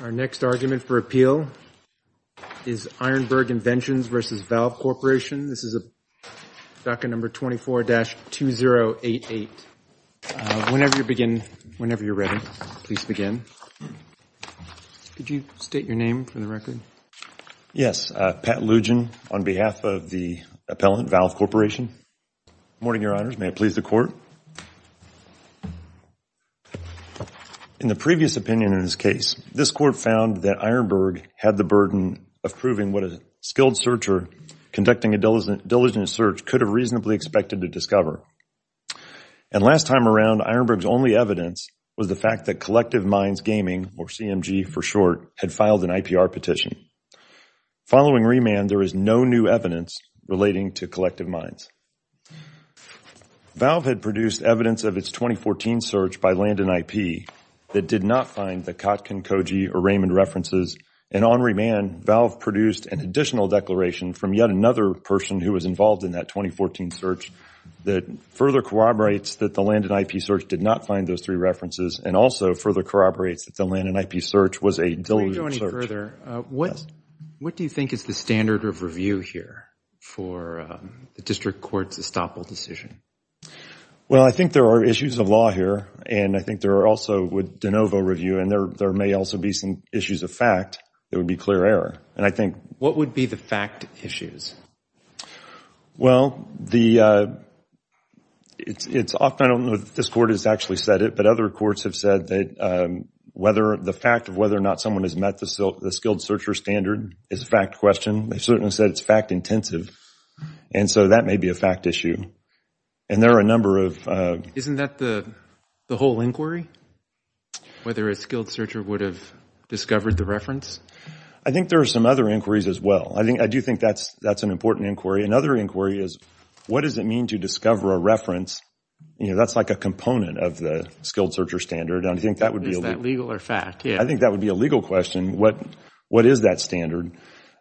Our next argument for appeal is Ironburg Inventions v. Valve Corporation. This is docket number 24-2088. Whenever you're ready, please begin. Could you state your name for the record? Yes. Pat Lugin on behalf of the appellant, Valve Corporation. Morning Your Honors. May it please the Court. In the previous opinion in this case, this Court found that Ironburg had the burden of proving what a skilled searcher conducting a diligent search could have reasonably expected to discover. And last time around, Ironburg's only evidence was the fact that Collective Minds Gaming, or CMG for short, had filed an IPR petition. Following remand, there is no new evidence relating to Collective Minds. Valve had produced evidence of its 2014 search by Landon IP that did not find the Kotkin, Koji, or Raymond references. And on remand, Valve produced an additional declaration from yet another person who was involved in that 2014 search that further corroborates that the Landon IP search did not find those three references and also further corroborates that the Landon IP search was a diligent search. What do you think is the standard of review here for the District Court's estoppel decision? Well I think there are issues of law here and I think there are also with de novo review and there may also be some issues of fact that would be clear error. What would be the fact issues? Well it's often, I don't know if this Court has actually said it, but other courts have said that whether the fact of whether or not someone has met the skilled searcher standard is a fact question. They've certainly said it's fact intensive. And so that may be a fact issue. And there are a number of... Isn't that the whole inquiry? Whether a skilled searcher would have discovered the reference? I think there are some other inquiries as well. I do think that's an important inquiry. Another inquiry is what does it mean to discover a reference? That's like a component of the skilled searcher standard. Is that legal or fact? I think that would be a legal question. What is that standard?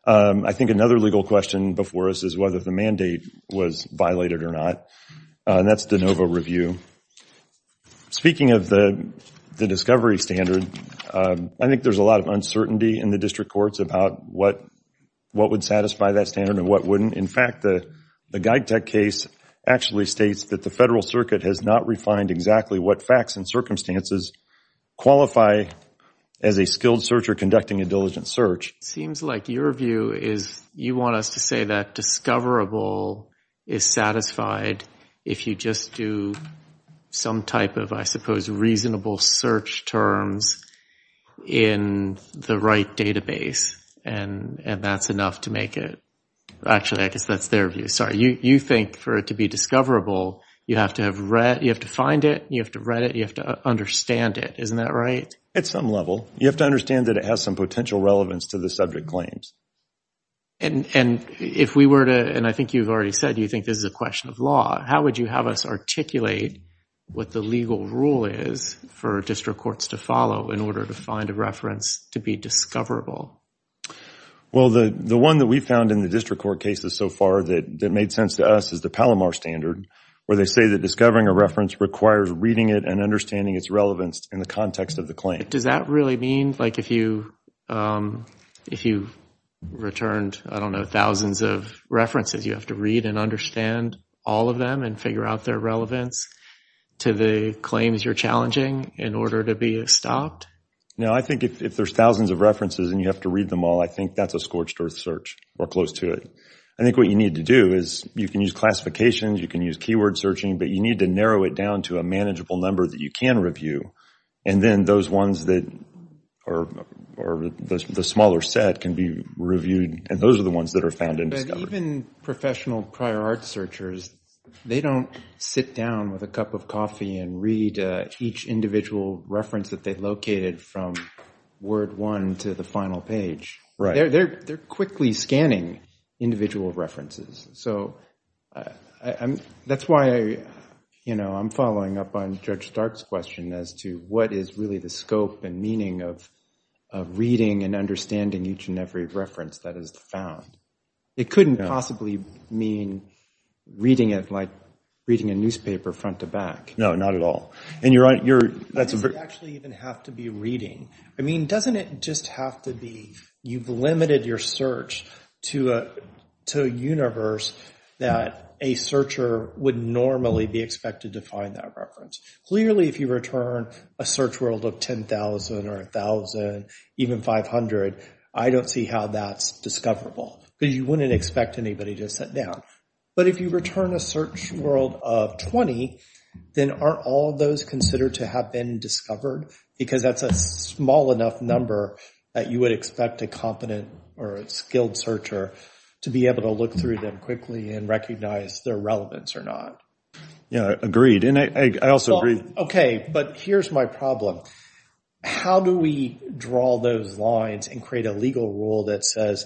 I think another legal question before us is whether the mandate was violated or not. That's de novo review. Speaking of the discovery standard, I think there's a lot of uncertainty in the District Courts about what would satisfy that standard and what wouldn't. In fact, the Geigtech case actually states that the Federal Circuit has not refined exactly what facts and circumstances qualify as a skilled searcher conducting a diligent search. It seems like your view is you want us to say that discoverable is satisfied if you just do some type of, I suppose, reasonable search terms in the right database and that's enough to make it. Actually, I guess that's their view. You think for it to be discoverable, you have to find it, you have to read it, you have to understand it. Isn't that right? At some level. You have to understand that it has some potential relevance to the subject claims. If we were to, and I think you've already said you think this is a question of law, how would you have us articulate what the legal rule is for District Courts to follow in order to find a reference to be discoverable? Well, the one that we found in the District Court cases so far that made sense to us is the Palomar Standard where they say that discovering a reference requires reading it and understanding its relevance in the context of the claim. Does that really mean, like if you returned, I don't know, thousands of references, you have to read and understand all of them and figure out their relevance to the claims you're challenging in order to be stopped? No, I think if there's thousands of references and you have to read them all, I think that's a scorched earth search or close to it. I think what you need to do is you can use classifications, you can use keyword searching, but you need to narrow it down to a manageable number that you can review. And then those ones that are the smaller set can be reviewed and those are the ones that are found and discovered. But even professional prior art searchers, they don't sit down with a cup of coffee and read each individual reference that they located from word one to the final page. They're quickly scanning individual references. So that's why I'm following up on Judge Stark's question as to what is really the scope and meaning of reading and understanding each and every reference that is found. It couldn't possibly mean reading it like reading a newspaper front to back. No, not at all. Does it actually even have to be reading? I mean, doesn't it just have to be you've limited your search to a universe that a searcher would normally be expected to find that reference? Clearly, if you return a search world of 10,000 or 1,000, even 500, I don't see how that's discoverable. Because you wouldn't expect anybody to sit down. But if you return a search world of 20, then aren't all those considered to have been discovered? Because that's a small enough number that you would expect a competent or a skilled searcher to be able to look through them quickly and recognize their relevance or not. Yeah, agreed. And I also agree. OK, but here's my problem. How do we draw those lines and create a legal rule that says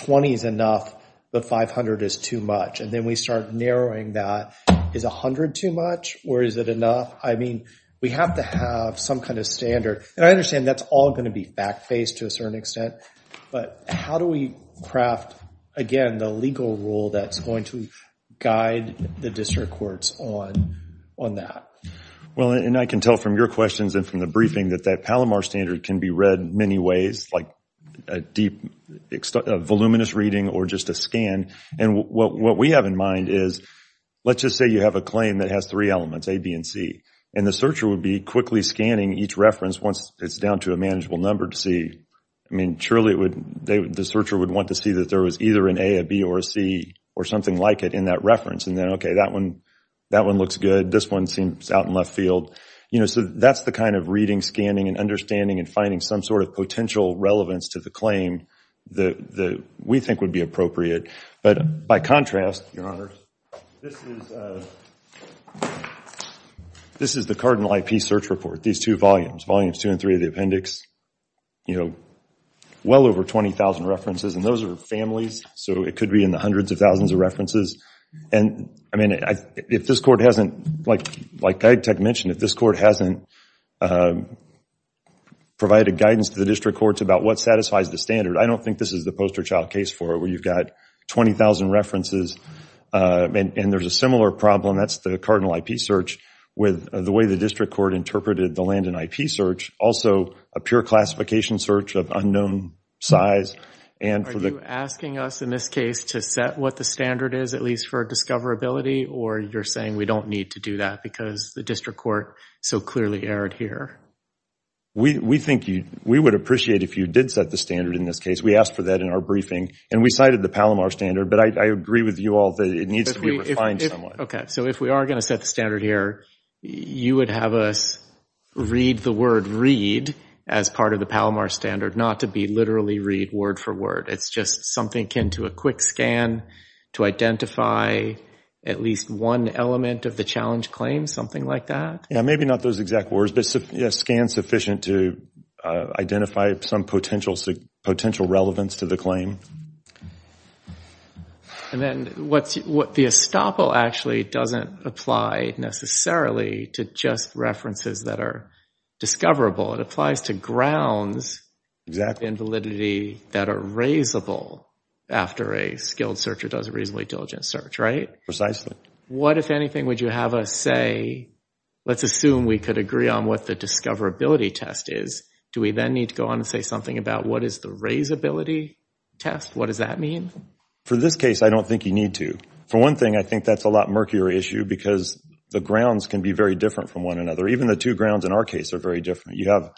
20 is enough, but 500 is too much? And then we start narrowing that. Is 100 too much, or is it enough? I mean, we have to have some kind of standard. And I understand that's all going to be back-faced to a certain extent. But how do we craft, again, the legal rule that's going to guide the district courts on that? Well, and I can tell from your questions and from the briefing that that Palomar standard can be read many ways, like a deep, voluminous reading or just a scan. And what we have in mind is, let's just say you have a claim that has three elements, A, B, and C. And the searcher would be quickly scanning each reference once it's down to a manageable number to see. I mean, surely the searcher would want to see that there was either an A, a B, or a C or something like it in that reference. And then, OK, that one looks good. This one seems out in left field. So that's the kind of reading, scanning, and understanding, and finding some sort of potential relevance to the claim that we think would be appropriate. But by contrast, Your Honor, this is the Cardinal IP search report, these two volumes, volumes two and three of the appendix. Well over 20,000 references, and those are families. So it could be in the hundreds of thousands of references. And I mean, if this court hasn't, like I mentioned, if this court hasn't provided guidance to the district courts about what satisfies the standard, I don't think this is the poster child case for it, where you've got 20,000 references, and there's a similar problem, that's the Cardinal IP search, with the way the district court interpreted the Landon IP search. Also, a pure classification search of unknown size. And for the- Are you asking us, in this case, to set what the standard is, at least for discoverability? Or you're saying we don't need to do that because the district court so clearly erred here? We think you, we would appreciate if you did set the standard in this case. We asked for that in our briefing, and we cited the Palomar standard, but I agree with you all that it needs to be refined somewhat. Okay, so if we are going to set the standard here, you would have us read the word read as part of the Palomar standard, not to be literally read word for word. It's just something akin to a quick scan to identify at least one element of the challenge claim, something like that? Yeah, maybe not those exact words, but a scan sufficient to identify some potential relevance to the claim. And then, what the estoppel actually doesn't apply necessarily to just references that are discoverable. It applies to grounds in validity that are raisable after a skilled searcher does a reasonably diligent search, right? Precisely. What if anything would you have us say, let's assume we could agree on what the discoverability test is, do we then need to go on and say something about what is the raisability test? What does that mean? For this case, I don't think you need to. For one thing, I think that's a lot murkier issue because the grounds can be very different from one another. Even the two grounds in our case are very different. You have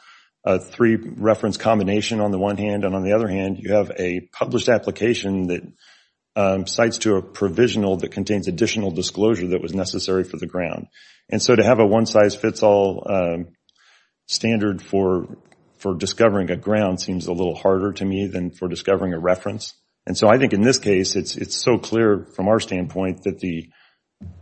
a three reference combination on the one hand, and on the other hand, you have a published application that cites to a provisional that contains additional disclosure that was necessary for the ground. And so, to have a one-size-fits-all standard for discovering a ground seems a little harder to me than for discovering a reference. And so, I think in this case, it's so clear from our standpoint that the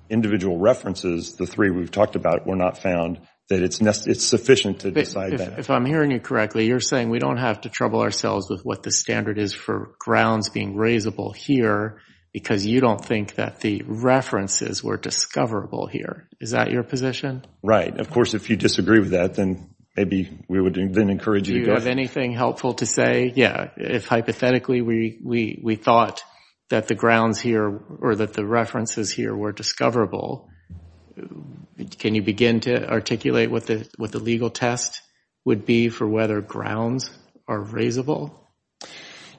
individual references, the three we've talked about, were not found that it's sufficient to decide that. If I'm hearing you correctly, you're saying we don't have to trouble ourselves with what the standard is for grounds being raisable here because you don't think that the references were discoverable here. Is that your position? Right. Of course, if you disagree with that, then maybe we would then encourage you to go… Do you have anything helpful to say? Yeah. If hypothetically, we thought that the grounds here or that the references here were discoverable, can you begin to articulate what the legal test would be for whether grounds are raisable?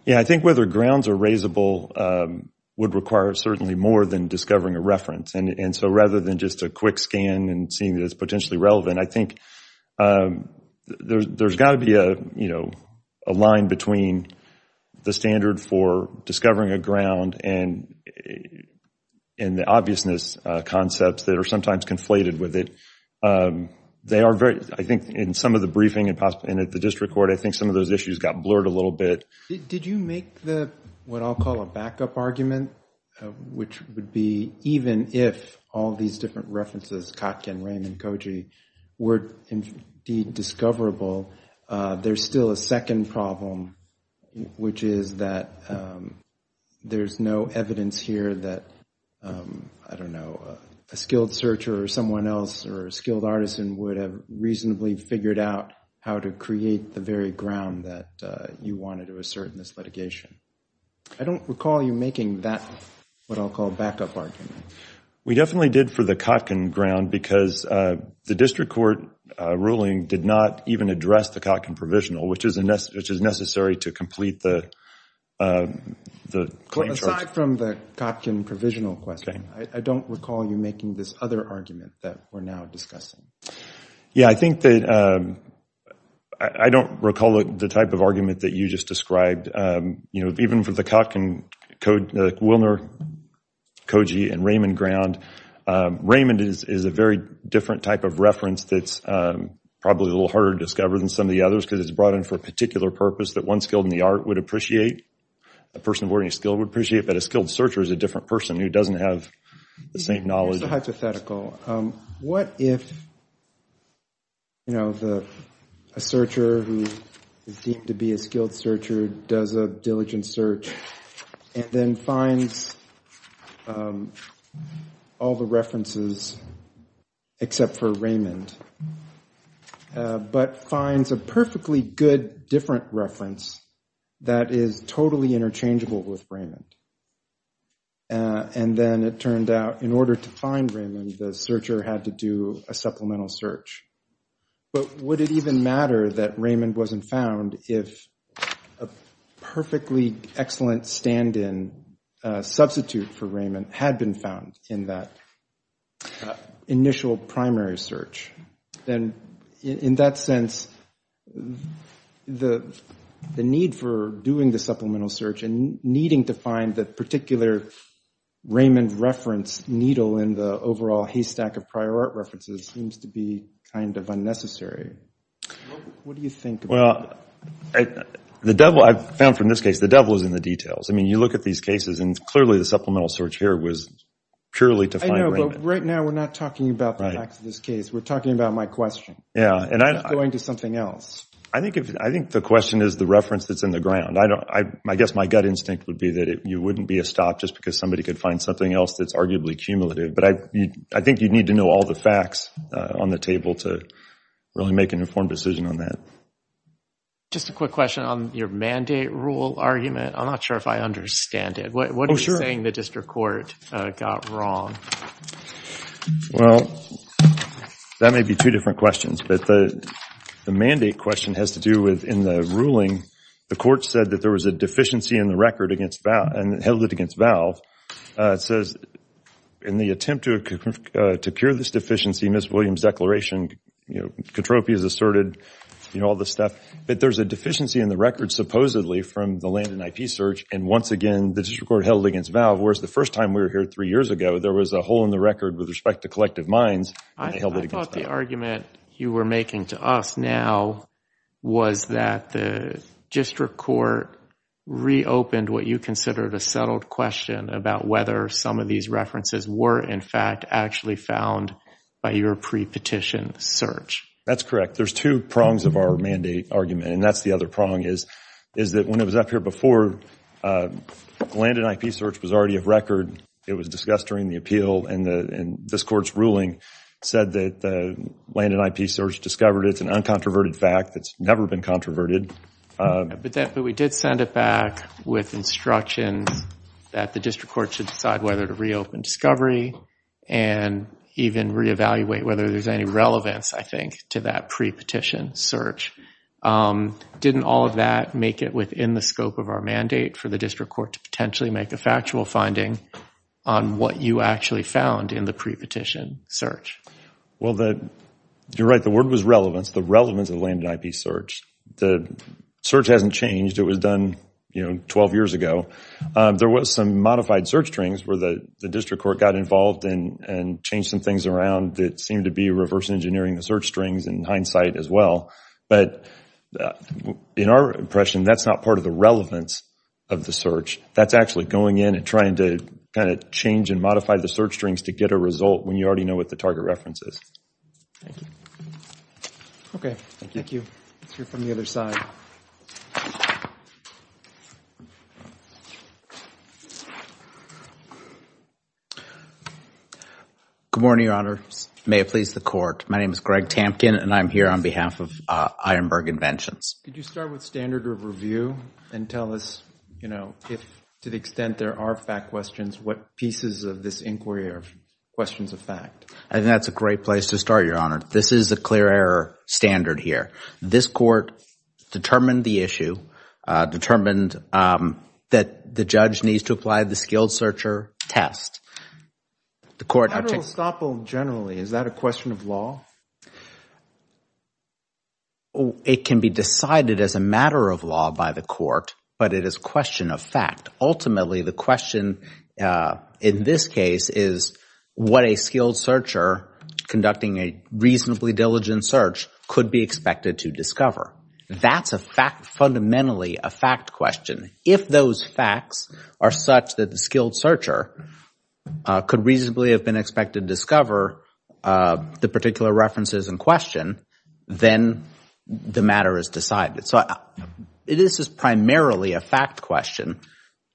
Yeah, I think whether grounds are raisable would require certainly more than discovering a reference. And so, rather than just a quick scan and seeing that it's potentially relevant, I think there's got to be a line between the standard for discovering a ground and the obviousness concepts that are sometimes conflated with it. I think in some of the briefing and at the district court, I think some of those issues got blurred a little bit. Did you make what I'll call a backup argument, which would be even if all these different references, Kotkin, Raymond, Koji, were indeed discoverable, there's still a second problem, which is that there's no evidence here that, I don't know, a skilled searcher or someone else or a skilled artisan would have reasonably figured out how to create the very ground that you wanted to assert in this litigation. I don't recall you making that, what I'll call a backup argument. We definitely did for the Kotkin ground because the district court ruling did not even address the Kotkin provisional, which is necessary to complete the claim charge. Aside from the Kotkin provisional question, I don't recall you making this other argument that we're now discussing. Yeah, I think that I don't recall the type of argument that you just described. Even for the Kotkin, Wilner, Koji, and Raymond ground, Raymond is a very different type of argument than the others because it's brought in for a particular purpose that one skilled in the art would appreciate, a person of learning skill would appreciate, but a skilled searcher is a different person who doesn't have the same knowledge. It's a hypothetical. What if a searcher who is deemed to be a skilled searcher does a diligent search and then finds all the references except for Raymond, but finds a perfectly good different reference that is totally interchangeable with Raymond. And then it turned out in order to find Raymond, the searcher had to do a supplemental search. But would it even matter that Raymond wasn't found if a perfectly excellent stand-in substitute for Raymond had been found in that initial primary search? Then in that sense, the need for doing the supplemental search and needing to find the particular Raymond reference needle in the overall haystack of prior art references seems to be kind of unnecessary. What do you think? Well, the devil, I've found from this case, the devil is in the details. I mean, you look at these cases and clearly the supplemental search here was purely to find Raymond. I know, but right now we're not talking about the facts of this case, we're talking about my question. Yeah. Going to something else. I think the question is the reference that's in the ground. I guess my gut instinct would be that you wouldn't be a stop just because somebody could find something else that's arguably cumulative. But I think you'd need to know all the facts on the table to really make an informed decision on that. Just a quick question on your mandate rule argument. I'm not sure if I understand it. What are you saying the district court got wrong? Well, that may be two different questions, but the mandate question has to do with in the ruling, the court said that there was a deficiency in the record and held it against Valve. It says, in the attempt to cure this deficiency, Ms. Williams' declaration, Kotropi has asserted all this stuff. But there's a deficiency in the record supposedly from the land and IP search, and once again, the district court held it against Valve, whereas the first time we were here three years ago, there was a hole in the record with respect to collective mines, and they held it against Valve. I thought the argument you were making to us now was that the district court reopened what you considered a settled question about whether some of these references were in fact actually found by your pre-petition search. That's correct. There's two prongs of our mandate argument, and that's the other prong, is that when it was up here before, land and IP search was already a record. It was discussed during the appeal, and this court's ruling said that land and IP search discovered it. It's an uncontroverted fact. It's never been controverted. But we did send it back with instructions that the district court should decide whether to reopen discovery and even reevaluate whether there's any relevance, I think, to that pre-petition search. Didn't all of that make it within the scope of our mandate for the district court to potentially make a factual finding on what you actually found in the pre-petition search? Well, you're right. The word was relevance. The relevance of land and IP search. The search hasn't changed. It was done 12 years ago. There was some modified search strings where the district court got involved and changed some things around that seemed to be reverse engineering the search strings in hindsight as well. But in our impression, that's not part of the relevance of the search. That's actually going in and trying to kind of change and modify the search strings to get a result when you already know what the target reference is. Thank you. Okay. Thank you. Let's hear from the other side. Good morning, Your Honor. May it please the Court. My name is Greg Tampkin, and I'm here on behalf of Ironburg Inventions. Could you start with standard of review and tell us, you know, if to the extent there are fact questions, what pieces of this inquiry are questions of fact? That's a great place to start, Your Honor. This is a clear error standard here. This court determined the issue, determined that the judge needs to apply the skilled searcher test. The court... Federal estoppel generally, is that a question of law? It can be decided as a matter of law by the court, but it is a question of fact. Ultimately, the question in this case is what a skilled searcher conducting a reasonably diligent search could be expected to discover. That's a fact, fundamentally a fact question. If those facts are such that the skilled searcher could reasonably have been expected to discover the particular references in question, then the matter is decided. So, this is primarily a fact question.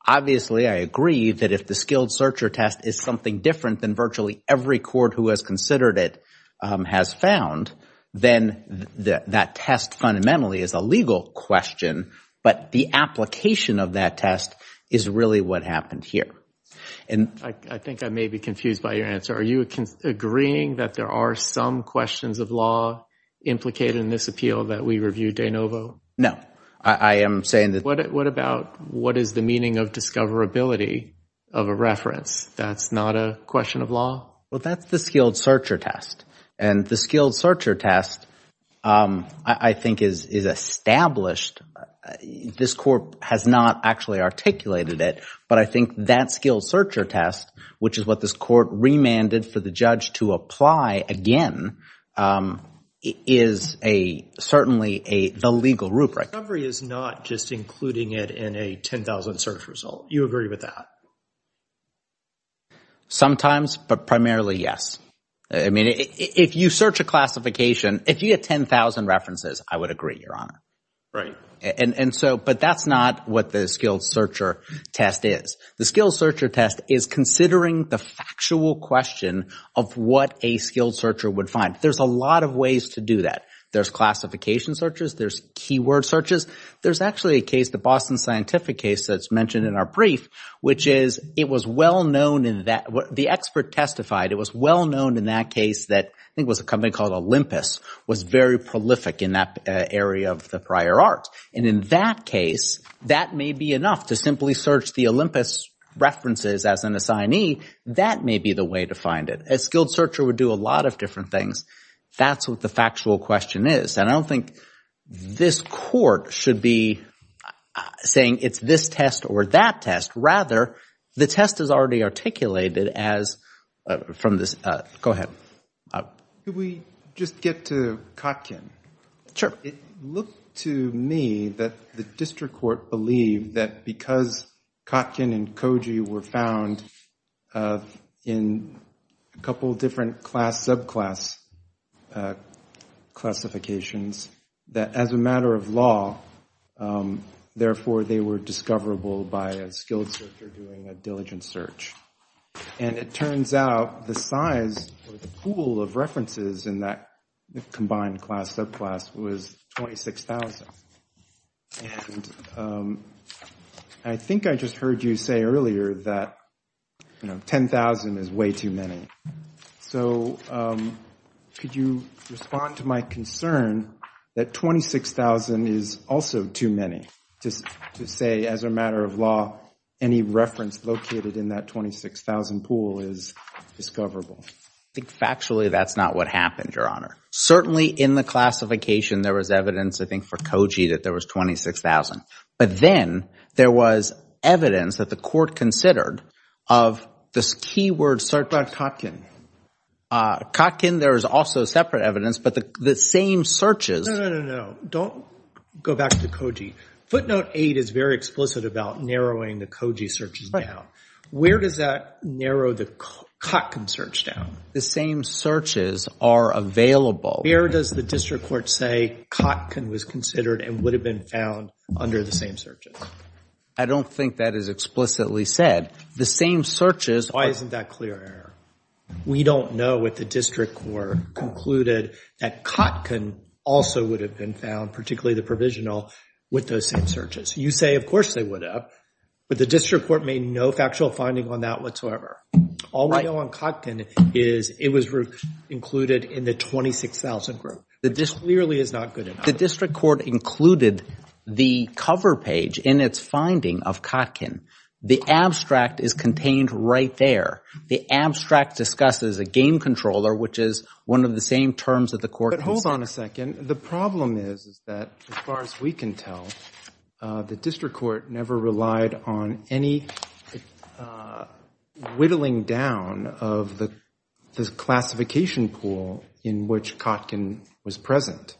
Obviously, I agree that if the skilled searcher test is something different than virtually every court who has considered it has found, then that test fundamentally is a legal question, but the application of that test is really what happened here. I think I may be confused by your answer. Are you agreeing that there are some questions of law implicated in this appeal that we reviewed de novo? No. I am saying that... What about what is the meaning of discoverability of a reference? That's not a question of law? Well, that's the skilled searcher test, and the skilled searcher test, I think, is established. This court has not actually articulated it, but I think that skilled searcher test, which is what this court remanded for the judge to apply again, is certainly the legal rubric. Discovery is not just including it in a 10,000 search result. You agree with that? Sometimes, but primarily, yes. If you search a classification, if you get 10,000 references, I would agree, Your Honor, but that's not what the skilled searcher test is. The skilled searcher test is considering the factual question of what a skilled searcher would find. There's a lot of ways to do that. There's classification searches. There's keyword searches. There's actually a case, the Boston Scientific case that's mentioned in our brief, which is it was well known in that... the expert testified it was well known in that case that I think it was a company called Olympus was very prolific in that area of the prior art, and in that case, that may be enough to simply search the Olympus references as an assignee. That may be the way to find it. A skilled searcher would do a lot of different things. That's what the factual question is, and I don't think this court should be saying it's this test or that test. Rather, the test is already articulated as... from this... go ahead. Could we just get to Kotkin? Sure. It looked to me that the district court believed that because Kotkin and Koji were found in a couple of different class subclass classifications, that as a matter of law, therefore, they were discoverable by a skilled searcher doing a diligent search. And it turns out the size or the pool of references in that combined class subclass was 26,000. And I think I just heard you say earlier that 10,000 is way too many. So could you respond to my concern that 26,000 is also too many to say as a matter of law any reference located in that 26,000 pool is discoverable? I think factually that's not what happened, Your Honor. Certainly in the classification there was evidence, I think for Koji, that there was 26,000. But then there was evidence that the court considered of this keyword... Start by Kotkin. Kotkin, there is also separate evidence, but the same searches... No, no, no, no. Don't go back to Koji. Footnote 8 is very explicit about narrowing the Koji searches down. Where does that narrow the Kotkin search down? The same searches are available. Where does the district court say Kotkin was considered and would have been found under the same searches? I don't think that is explicitly said. The same searches... Why isn't that clear error? We don't know if the district court concluded that Kotkin also would have been found, particularly the provisional, with those same searches. You say of course they would have, but the district court made no factual finding on that whatsoever. All we know on Kotkin is it was included in the 26,000 group. The district court included the cover page in its finding of Kotkin. The abstract is contained right there. The abstract discusses a game controller, which is one of the same terms that the court has... As far as we can tell, the district court never relied on any whittling down of the classification pool in which Kotkin was present.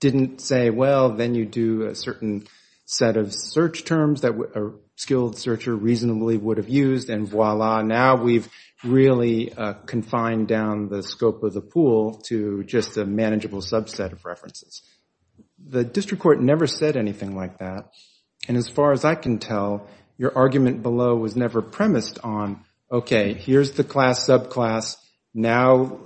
Didn't say, well, then you do a certain set of search terms that a skilled searcher reasonably would have used, and voila, now we've really confined down the scope of the pool to just a manageable subset of references. The district court never said anything like that, and as far as I can tell, your argument below was never premised on, okay, here's the class, subclass, now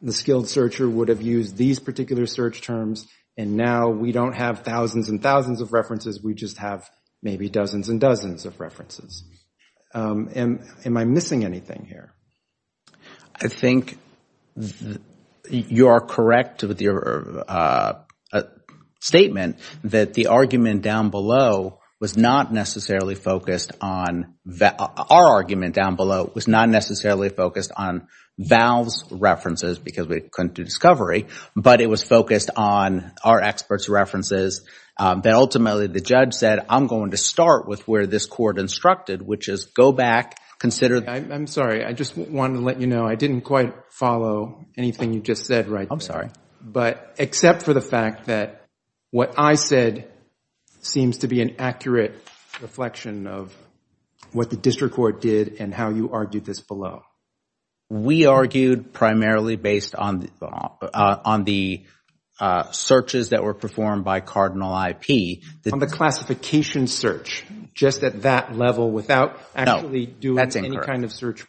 the skilled searcher would have used these particular search terms, and now we don't have thousands and thousands of references. We just have maybe dozens and dozens of references. Am I missing anything here? I think you are correct with your statement that the argument down below was not necessarily focused on... our argument down below was not necessarily focused on Val's references because we couldn't do discovery, but it was focused on our expert's references, but ultimately the judge said, I'm going to start with where this court instructed, which is go back, consider... I'm sorry. I just wanted to let you know, I didn't quite follow anything you just said right there. I'm sorry. But except for the fact that what I said seems to be an accurate reflection of what the district court did and how you argued this below. We argued primarily based on the searches that were performed by Cardinal IP... On the classification search, just at that level without actually doing any kind of search...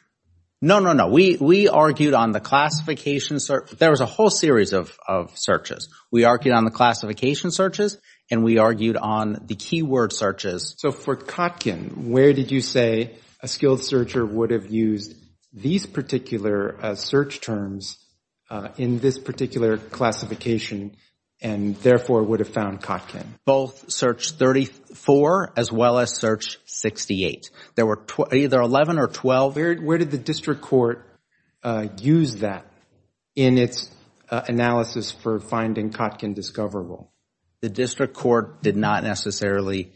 No, no, no. We argued on the classification... there was a whole series of searches. We argued on the classification searches and we argued on the keyword searches. So for Kotkin, where did you say a skilled searcher would have used these particular search terms in this particular classification and therefore would have found Kotkin? Both search 34 as well as search 68. There were either 11 or 12. Where did the district court use that in its analysis for finding Kotkin discoverable? The district court did not necessarily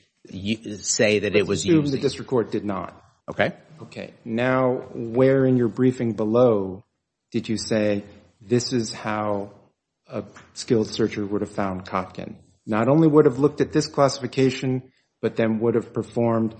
say that it was using... I assume the district court did not. Okay. Okay. Now, where in your briefing below did you say, this is how a skilled searcher would have found Kotkin? Not only would have looked at this classification, but then would have performed...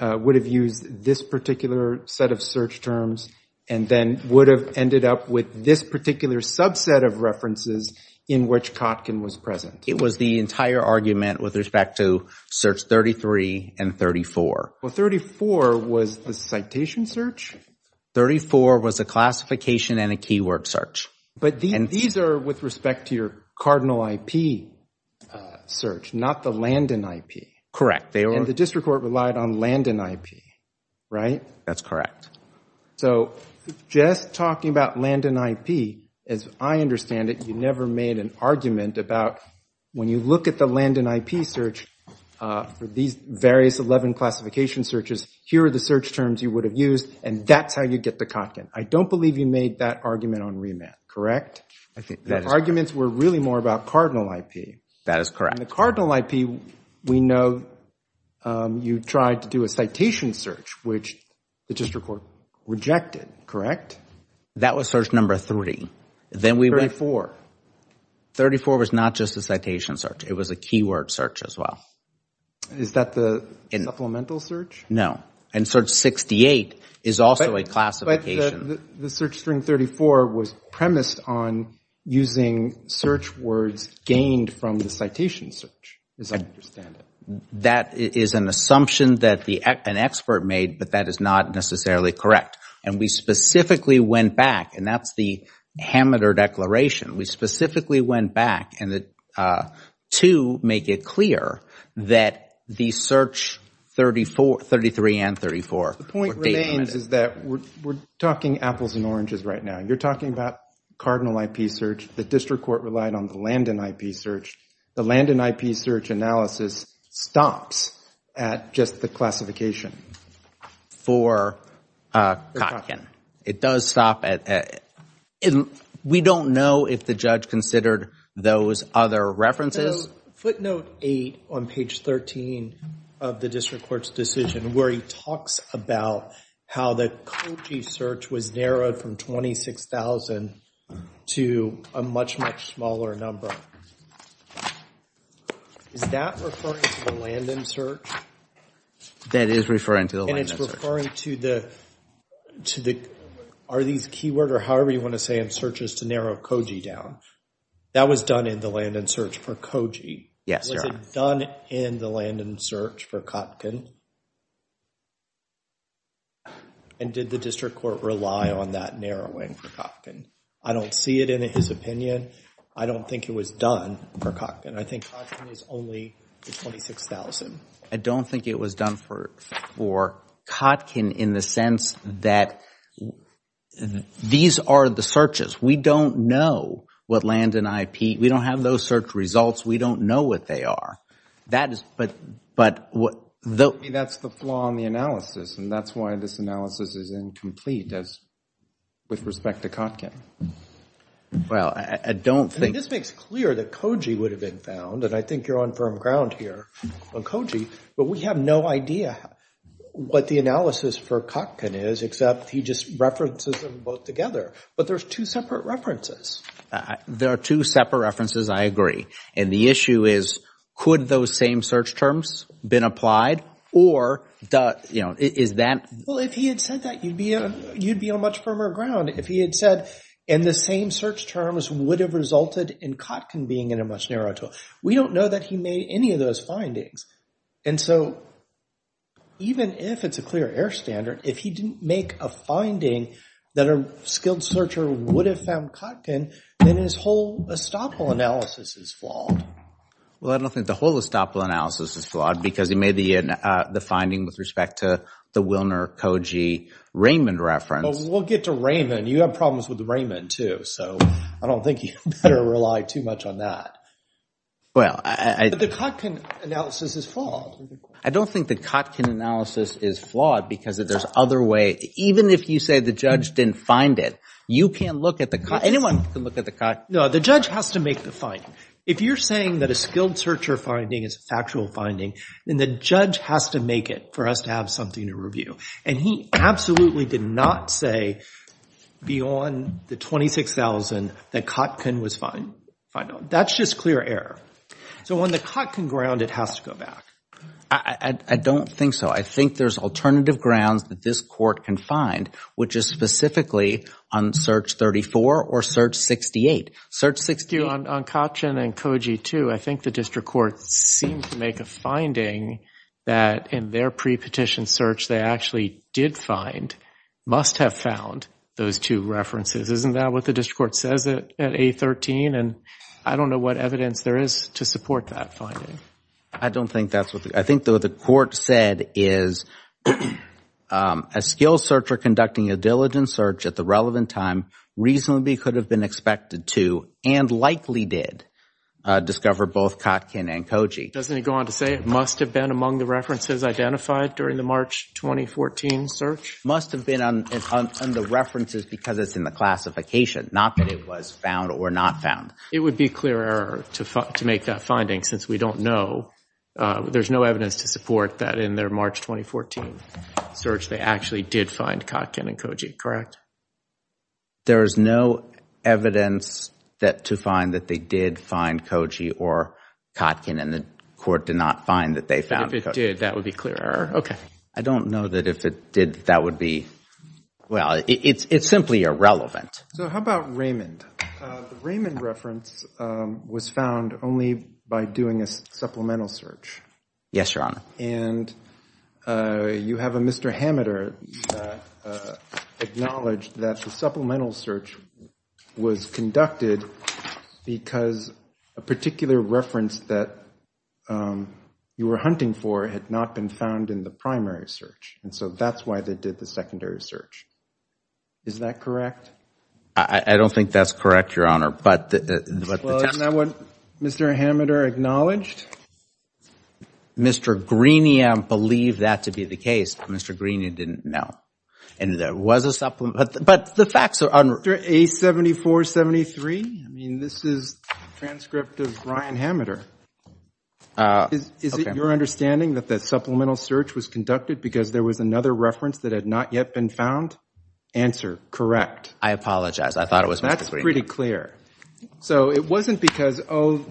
would have used this particular set of search terms and then would have ended up with this particular subset of references in which Kotkin was present. It was the entire argument with respect to search 33 and 34. Well, 34 was the citation search? 34 was a classification and a keyword search. But these are with respect to your cardinal IP search, not the Landon IP. Correct. And the district court relied on Landon IP, right? That's correct. So just talking about Landon IP, as I understand it, you never made an argument about when you look at the Landon IP search for these various 11 classification searches, here are the search terms you would have used, and that's how you get to Kotkin. I don't believe you made that argument on remand, correct? Arguments were really more about cardinal IP. That is correct. And the cardinal IP, we know you tried to do a citation search, which the district court rejected, correct? That was search number 30. Then we... 34 was not just a citation search. It was a keyword search as well. Is that the supplemental search? No. And search 68 is also a classification. The search string 34 was premised on using search words gained from the citation search, as I understand it. That is an assumption that an expert made, but that is not necessarily correct. And we specifically went back, and that's the Hammeter Declaration, we specifically went back to make it clear that the search 33 and 34... The point remains is that we're talking apples and oranges right now. You're talking about cardinal IP search. The district court relied on the Landon IP search. The Landon IP search analysis stops at just the classification. For Kotkin. It does stop at... We don't know if the judge considered those other references. Footnote 8 on page 13 of the district court's decision where he talks about how the Kochi search was narrowed from 26,000 to a much, much smaller number. Is that referring to the Landon search? That is referring to the Landon search. It's referring to the... Are these keyword or however you want to say in searches to narrow Kochi down? That was done in the Landon search for Kochi. Yes, Your Honor. Was it done in the Landon search for Kotkin? And did the district court rely on that narrowing for Kotkin? I don't see it in his opinion. I don't think it was done for Kotkin. I think Kotkin is only the 26,000. I don't think it was done for Kotkin in the sense that these are the searches. We don't know what Landon IP... we don't have those search results. We don't know what they are. But that's the flaw in the analysis, and that's why this analysis is incomplete with respect to Kotkin. Well, I don't think... I mean, this makes clear that Kochi would have been found, and I think you're on firm ground here. On Kochi. But we have no idea what the analysis for Kotkin is, except he just references them both together. But there's two separate references. There are two separate references. I agree. And the issue is, could those same search terms been applied, or is that... Well, if he had said that, you'd be on much firmer ground. If he had said, and the same search terms would have resulted in Kotkin being in a much We don't know that he made any of those findings. And so, even if it's a clear air standard, if he didn't make a finding that a skilled searcher would have found Kotkin, then his whole estoppel analysis is flawed. Well, I don't think the whole estoppel analysis is flawed, because he made the finding with respect to the Wilner-Kochi-Raymond reference. But we'll get to Raymond. You have problems with Raymond, too. So, I don't think you better rely too much on that. But the Kotkin analysis is flawed. I don't think the Kotkin analysis is flawed, because there's other ways. Even if you say the judge didn't find it, you can't look at the... anyone can look at the... No, the judge has to make the finding. If you're saying that a skilled searcher finding is a factual finding, then the judge has to make it for us to have something to review. And he absolutely did not say, beyond the 26,000, that Kotkin was found. That's just clear error. So, on the Kotkin ground, it has to go back. I don't think so. I think there's alternative grounds that this court can find, which is specifically on search 34 or search 68. Search 68... On Kotkin and Kochi, too, I think the district courts seem to make a finding that in their pre-petition search, they actually did find... must have found those two references. Isn't that what the district court says at 813? I don't know what evidence there is to support that finding. I don't think that's what... I think what the court said is a skilled searcher conducting a diligent search at the relevant time reasonably could have been expected to, and likely did, discover both Kotkin and Kochi. Doesn't he go on to say it must have been among the references identified? During the March 2014 search? Must have been on the references because it's in the classification, not that it was found or not found. It would be clear error to make that finding, since we don't know... there's no evidence to support that in their March 2014 search, they actually did find Kotkin and Kochi, correct? There's no evidence to find that they did find Kochi or Kotkin, and the court did not find that they found Kochi. If it did, that would be clear error. Okay. I don't know that if it did, that would be... well, it's simply irrelevant. So how about Raymond? The Raymond reference was found only by doing a supplemental search. Yes, Your Honor. And you have a Mr. Hameter that acknowledged that the supplemental search was conducted because a particular reference that you were hunting for had not been found in the primary search, and so that's why they did the secondary search. Is that correct? I don't think that's correct, Your Honor, but... Well, isn't that what Mr. Hameter acknowledged? Mr. Greenia believed that to be the case, but Mr. Greenia didn't know, and there was a supplemental... but the facts are... Mr. A7473, I mean, this is a transcript of Ryan Hameter. Is it your understanding that the supplemental search was conducted because there was another reference that had not yet been found? Answer, correct. I apologize. I thought it was Mr. Greenia. That's pretty clear. So it wasn't because, oh,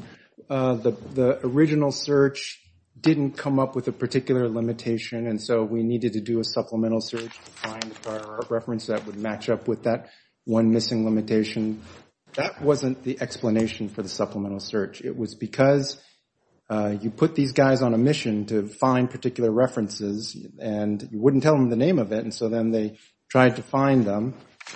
the original search didn't come up with a particular limitation, and so we needed to do a supplemental search to find a reference that would match up with that one missing limitation. That wasn't the explanation for the supplemental search. It was because you put these guys on a mission to find particular references, and you wouldn't tell them the name of it, and so then they tried to find them,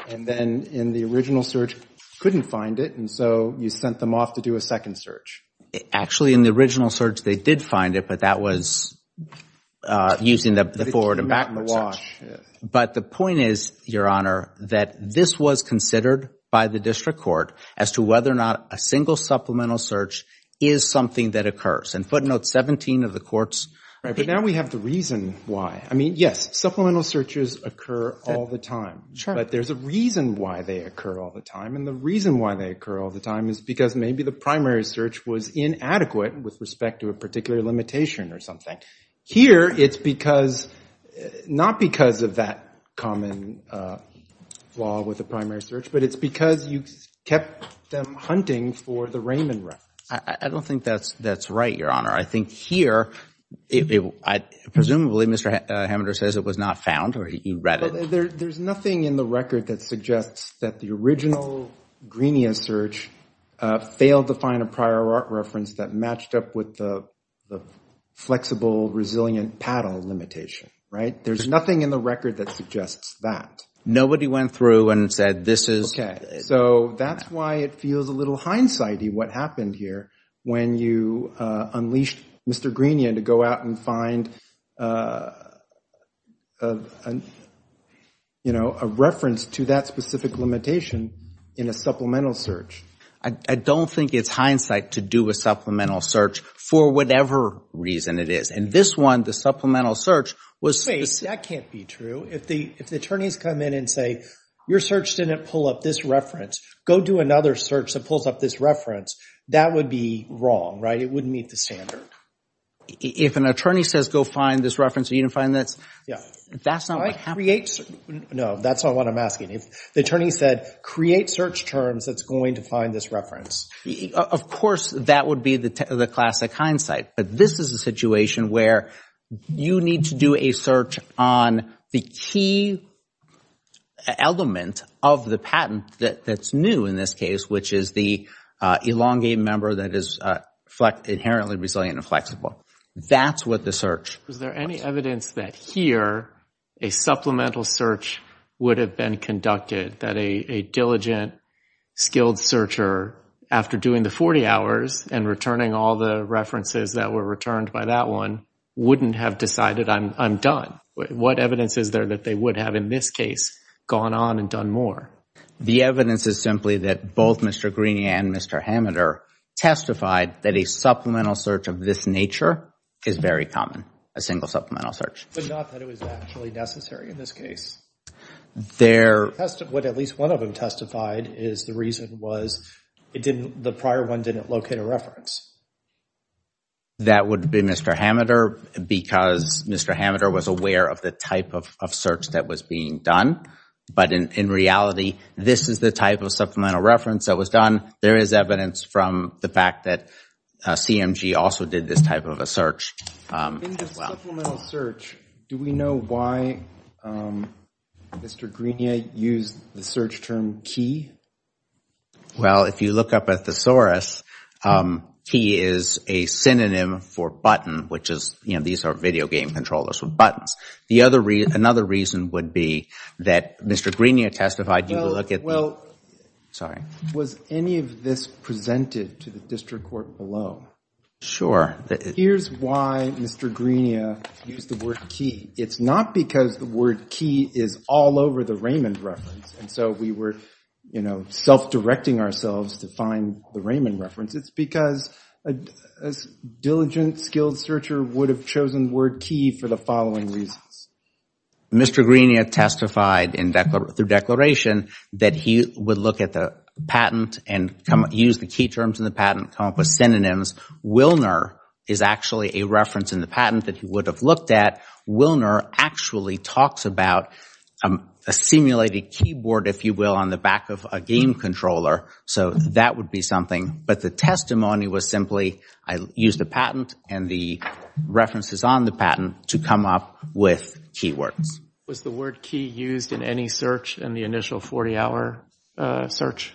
and then in the original search couldn't find it, and so you sent them off to do a second search. Actually in the original search, they did find it, but that was using the forward and backward search. But the point is, Your Honor, that this was considered by the district court as to whether or not a single supplemental search is something that occurs, and footnote 17 of the court's – Right. But now we have the reason why. I mean, yes, supplemental searches occur all the time, but there's a reason why they occur all the time, and the reason why they occur all the time is because maybe the primary search was inadequate with respect to a particular limitation or something. Here it's because – not because of that common flaw with the primary search, but it's because you kept them hunting for the Raymond reference. I don't think that's right, Your Honor. I think here, presumably Mr. Hamender says it was not found or he read it. There's nothing in the record that suggests that the original Greenia search failed to find a prior reference that matched up with the flexible, resilient PADL limitation, right? There's nothing in the record that suggests that. Nobody went through and said this is – So that's why it feels a little hindsight-y what happened here when you unleashed Mr. Greenia to go out and find a reference to that specific limitation in a supplemental search. I don't think it's hindsight to do a supplemental search for whatever reason it is. And this one, the supplemental search, was – That can't be true. If the attorneys come in and say your search didn't pull up this reference, go do another search that pulls up this reference, that would be wrong, right? It wouldn't meet the standard. If an attorney says go find this reference and you didn't find this, that's not what happened. No, that's not what I'm asking. If the attorney said create search terms that's going to find this reference. Of course, that would be the classic hindsight, but this is a situation where you need to do a search on the key element of the patent that's new in this case, which is the elongated member that is inherently resilient and flexible. That's what the search – Is there any evidence that here a supplemental search would have been conducted, that a diligent, skilled searcher, after doing the 40 hours and returning all the references that were returned by that one, wouldn't have decided I'm done? What evidence is there that they would have in this case gone on and done more? The evidence is simply that both Mr. Greeney and Mr. Hammeter testified that a supplemental search of this nature is very common, a single supplemental search. But not that it was actually necessary in this case? What at least one of them testified is the reason was the prior one didn't locate a That would be Mr. Hammeter because Mr. Hammeter was aware of the type of search that was being done, but in reality, this is the type of supplemental reference that was done. There is evidence from the fact that CMG also did this type of a search. In the supplemental search, do we know why Mr. Greeney used the search term key? Well, if you look up a thesaurus, key is a synonym for button, which is, you know, these are video game controllers with buttons. Another reason would be that Mr. Greeney testified – Well, was any of this presented to the district court below? Sure. Here's why Mr. Greeney used the word key. It's not because the word key is all over the Raymond reference, and so we were, you know, self-directing ourselves to find the Raymond reference. It's because a diligent, skilled searcher would have chosen the word key for the following reasons. Mr. Greeney testified through declaration that he would look at the patent and use the key terms in the patent, come up with synonyms. Wilner is actually a reference in the patent that he would have looked at. Wilner actually talks about a simulated keyboard, if you will, on the back of a game controller, so that would be something. But the testimony was simply, I used the patent and the references on the patent to come up with keywords. Was the word key used in any search in the initial 40-hour search?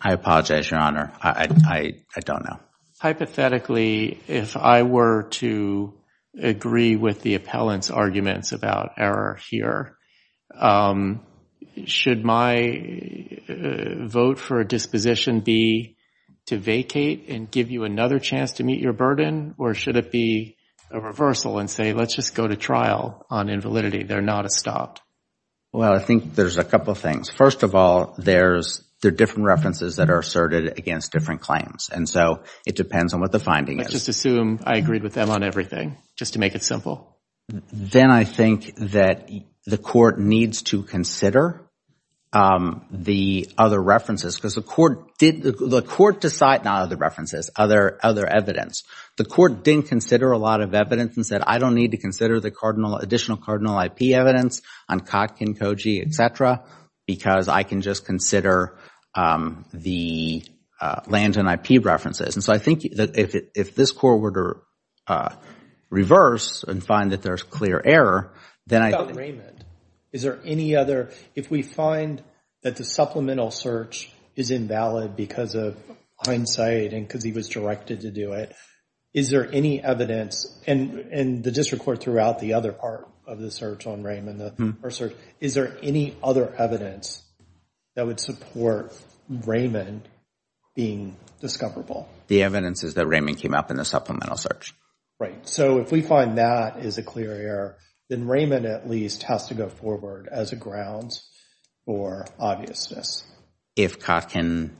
I apologize, Your Honor. I don't know. Hypothetically, if I were to agree with the appellant's arguments about error here, should my vote for a disposition be to vacate and give you another chance to meet your burden, or should it be a reversal and say, let's just go to trial on invalidity, they're not a stop? Well, I think there's a couple of things. First of all, there are different references that are asserted against different claims, and so it depends on what the finding is. Let's just assume I agreed with them on everything, just to make it simple. Then I think that the court needs to consider the other references, because the court decided not other references, other evidence. The court didn't consider a lot of evidence and said, I don't need to consider the additional cardinal IP evidence on Kotkin, Koji, et cetera, because I can just consider the land and IP references. And so I think if this court were to reverse and find that there's clear error, then I think What about Raymond? Is there any other, if we find that the supplemental search is invalid because of hindsight and because he was directed to do it, is there any evidence, and the district court threw out the other part of the search on Raymond, is there any other evidence that would support Raymond being discoverable? The evidence is that Raymond came up in the supplemental search. Right. And so if we find that is a clear error, then Raymond at least has to go forward as a ground for obviousness. If Kotkin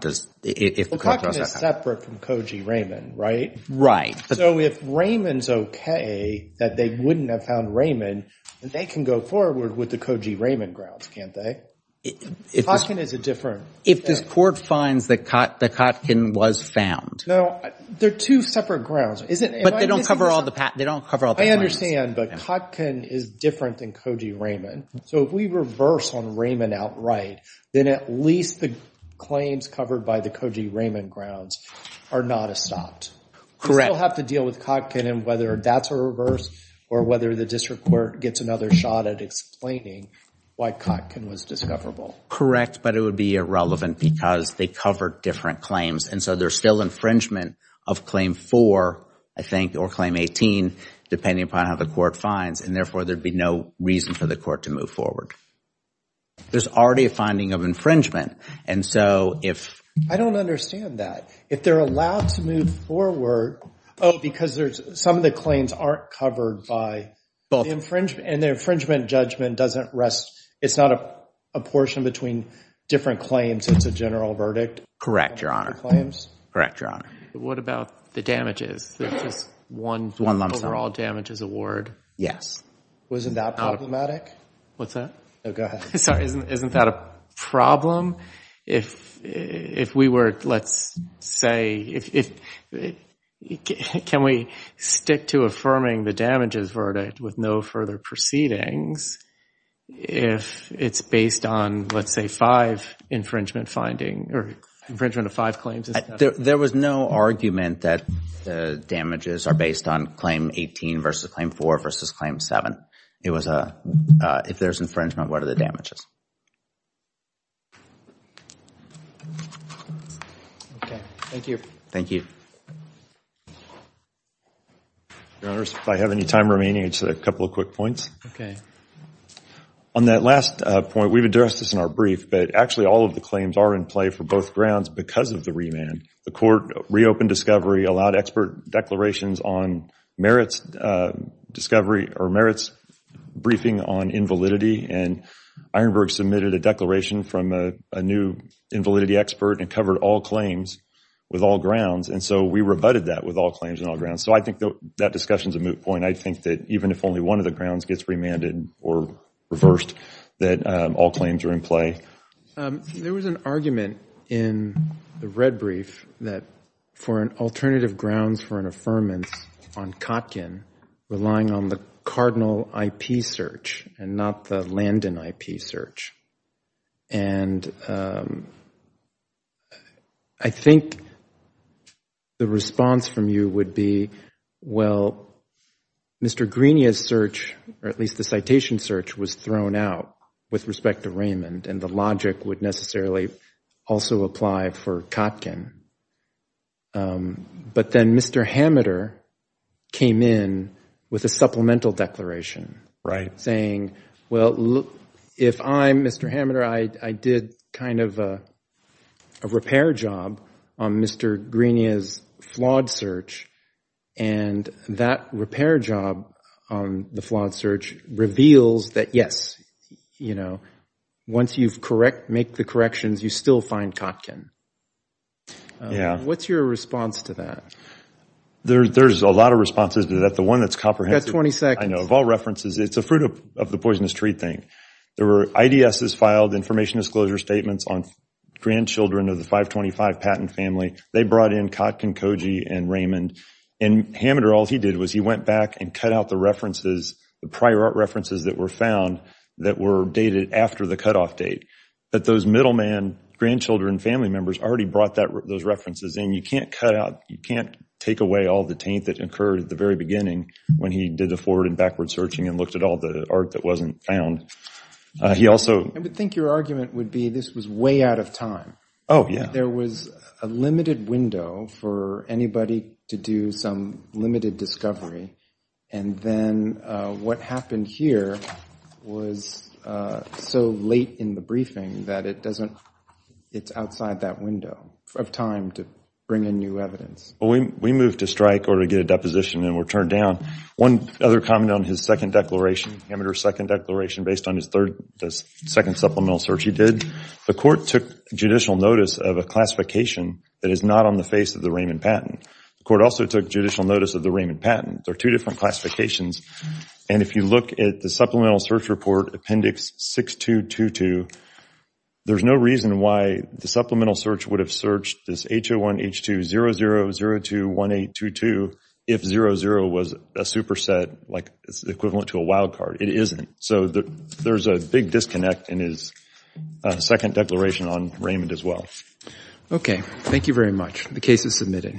does, if the court does that. Well, Kotkin is separate from Koji Raymond, right? Right. So if Raymond's OK that they wouldn't have found Raymond, they can go forward with the Koji Raymond grounds, can't they? Kotkin is a different. If this court finds that Kotkin was found. No, they're two separate grounds. But they don't cover all the, they don't cover all the claims. I understand, but Kotkin is different than Koji Raymond. So if we reverse on Raymond outright, then at least the claims covered by the Koji Raymond grounds are not a stopped. Correct. We still have to deal with Kotkin and whether that's a reverse or whether the district court gets another shot at explaining why Kotkin was discoverable. Correct. But it would be irrelevant because they covered different claims. And so there's still infringement of Claim 4, I think, or Claim 18, depending upon how the court finds. And therefore, there'd be no reason for the court to move forward. There's already a finding of infringement. And so if. I don't understand that. If they're allowed to move forward, oh, because there's some of the claims aren't covered by the infringement. And the infringement judgment doesn't rest, it's not a portion between different claims. It's a general verdict. Correct, Your Honor. Correct, Your Honor. What about the damages? There's just one overall damages award. Wasn't that problematic? What's that? No, go ahead. Sorry, isn't that a problem? If we were, let's say, can we stick to affirming the damages verdict with no further proceedings if it's based on, let's say, five infringement finding or infringement of five claims? There was no argument that the damages are based on Claim 18 versus Claim 4 versus Claim 7. It was a, if there's infringement, what are the damages? Okay, thank you. Thank you. Your Honor, if I have any time remaining, just a couple of quick points. Okay. On that last point, we've addressed this in our brief, but actually all of the claims are in play for both grounds because of the remand. The court reopened discovery, allowed expert declarations on merits discovery or merits briefing on invalidity, and Ironburg submitted a declaration from a new invalidity expert and covered all claims with all grounds. And so we rebutted that with all claims and all grounds. So I think that discussion's a moot point. I think that even if only one of the grounds gets remanded or reversed, that all claims are in play. There was an argument in the red brief that for an alternative grounds for an affirmance on Kotkin, relying on the Cardinal IP search and not the Landon IP search. And I think the response from you would be, well, Mr. Greenia's search, or at least the citation search, was thrown out with respect to remand and the logic would necessarily also apply for Kotkin. But then Mr. Hammeter came in with a supplemental declaration saying, well, if I, Mr. Hammeter, I did kind of a repair job on Mr. Greenia's flawed search and that repair job on the flawed search reveals that, yes, you know, once you make the corrections, you still find Kotkin. What's your response to that? There's a lot of responses to that. The one that's comprehensive. You've got 20 seconds. I know. Of all references, it's a fruit of the poisonous tree thing. There were IDS's filed information disclosure statements on grandchildren of the 525 patent family. They brought in Kotkin, Koji, and Raymond. And Hammeter, all he did was he went back and cut out the references, the prior references that were found that were dated after the cutoff date. But those middleman, grandchildren, family members already brought those references in. You can't take away all the taint that occurred at the very beginning when he did the forward and backward searching and looked at all the art that wasn't found. I would think your argument would be this was way out of time. Oh, yeah. There was a limited window for anybody to do some limited discovery. And then what happened here was so late in the briefing that it doesn't – it's outside that window of time to bring in new evidence. We moved to strike or to get a deposition and were turned down. One other comment on his second declaration, Hammeter's second declaration, based on his second supplemental search he did, the court took judicial notice of a classification that is not on the face of the Raymond patent. The court also took judicial notice of the Raymond patent. There are two different classifications. And if you look at the supplemental search report, Appendix 6222, there's no reason why the supplemental search would have searched this H01, H02, 00, 02, 18, 22, if 00 was a superset like equivalent to a wild card. It isn't. So there's a big disconnect in his second declaration on Raymond as well. Okay. Thank you very much. The case is submitted.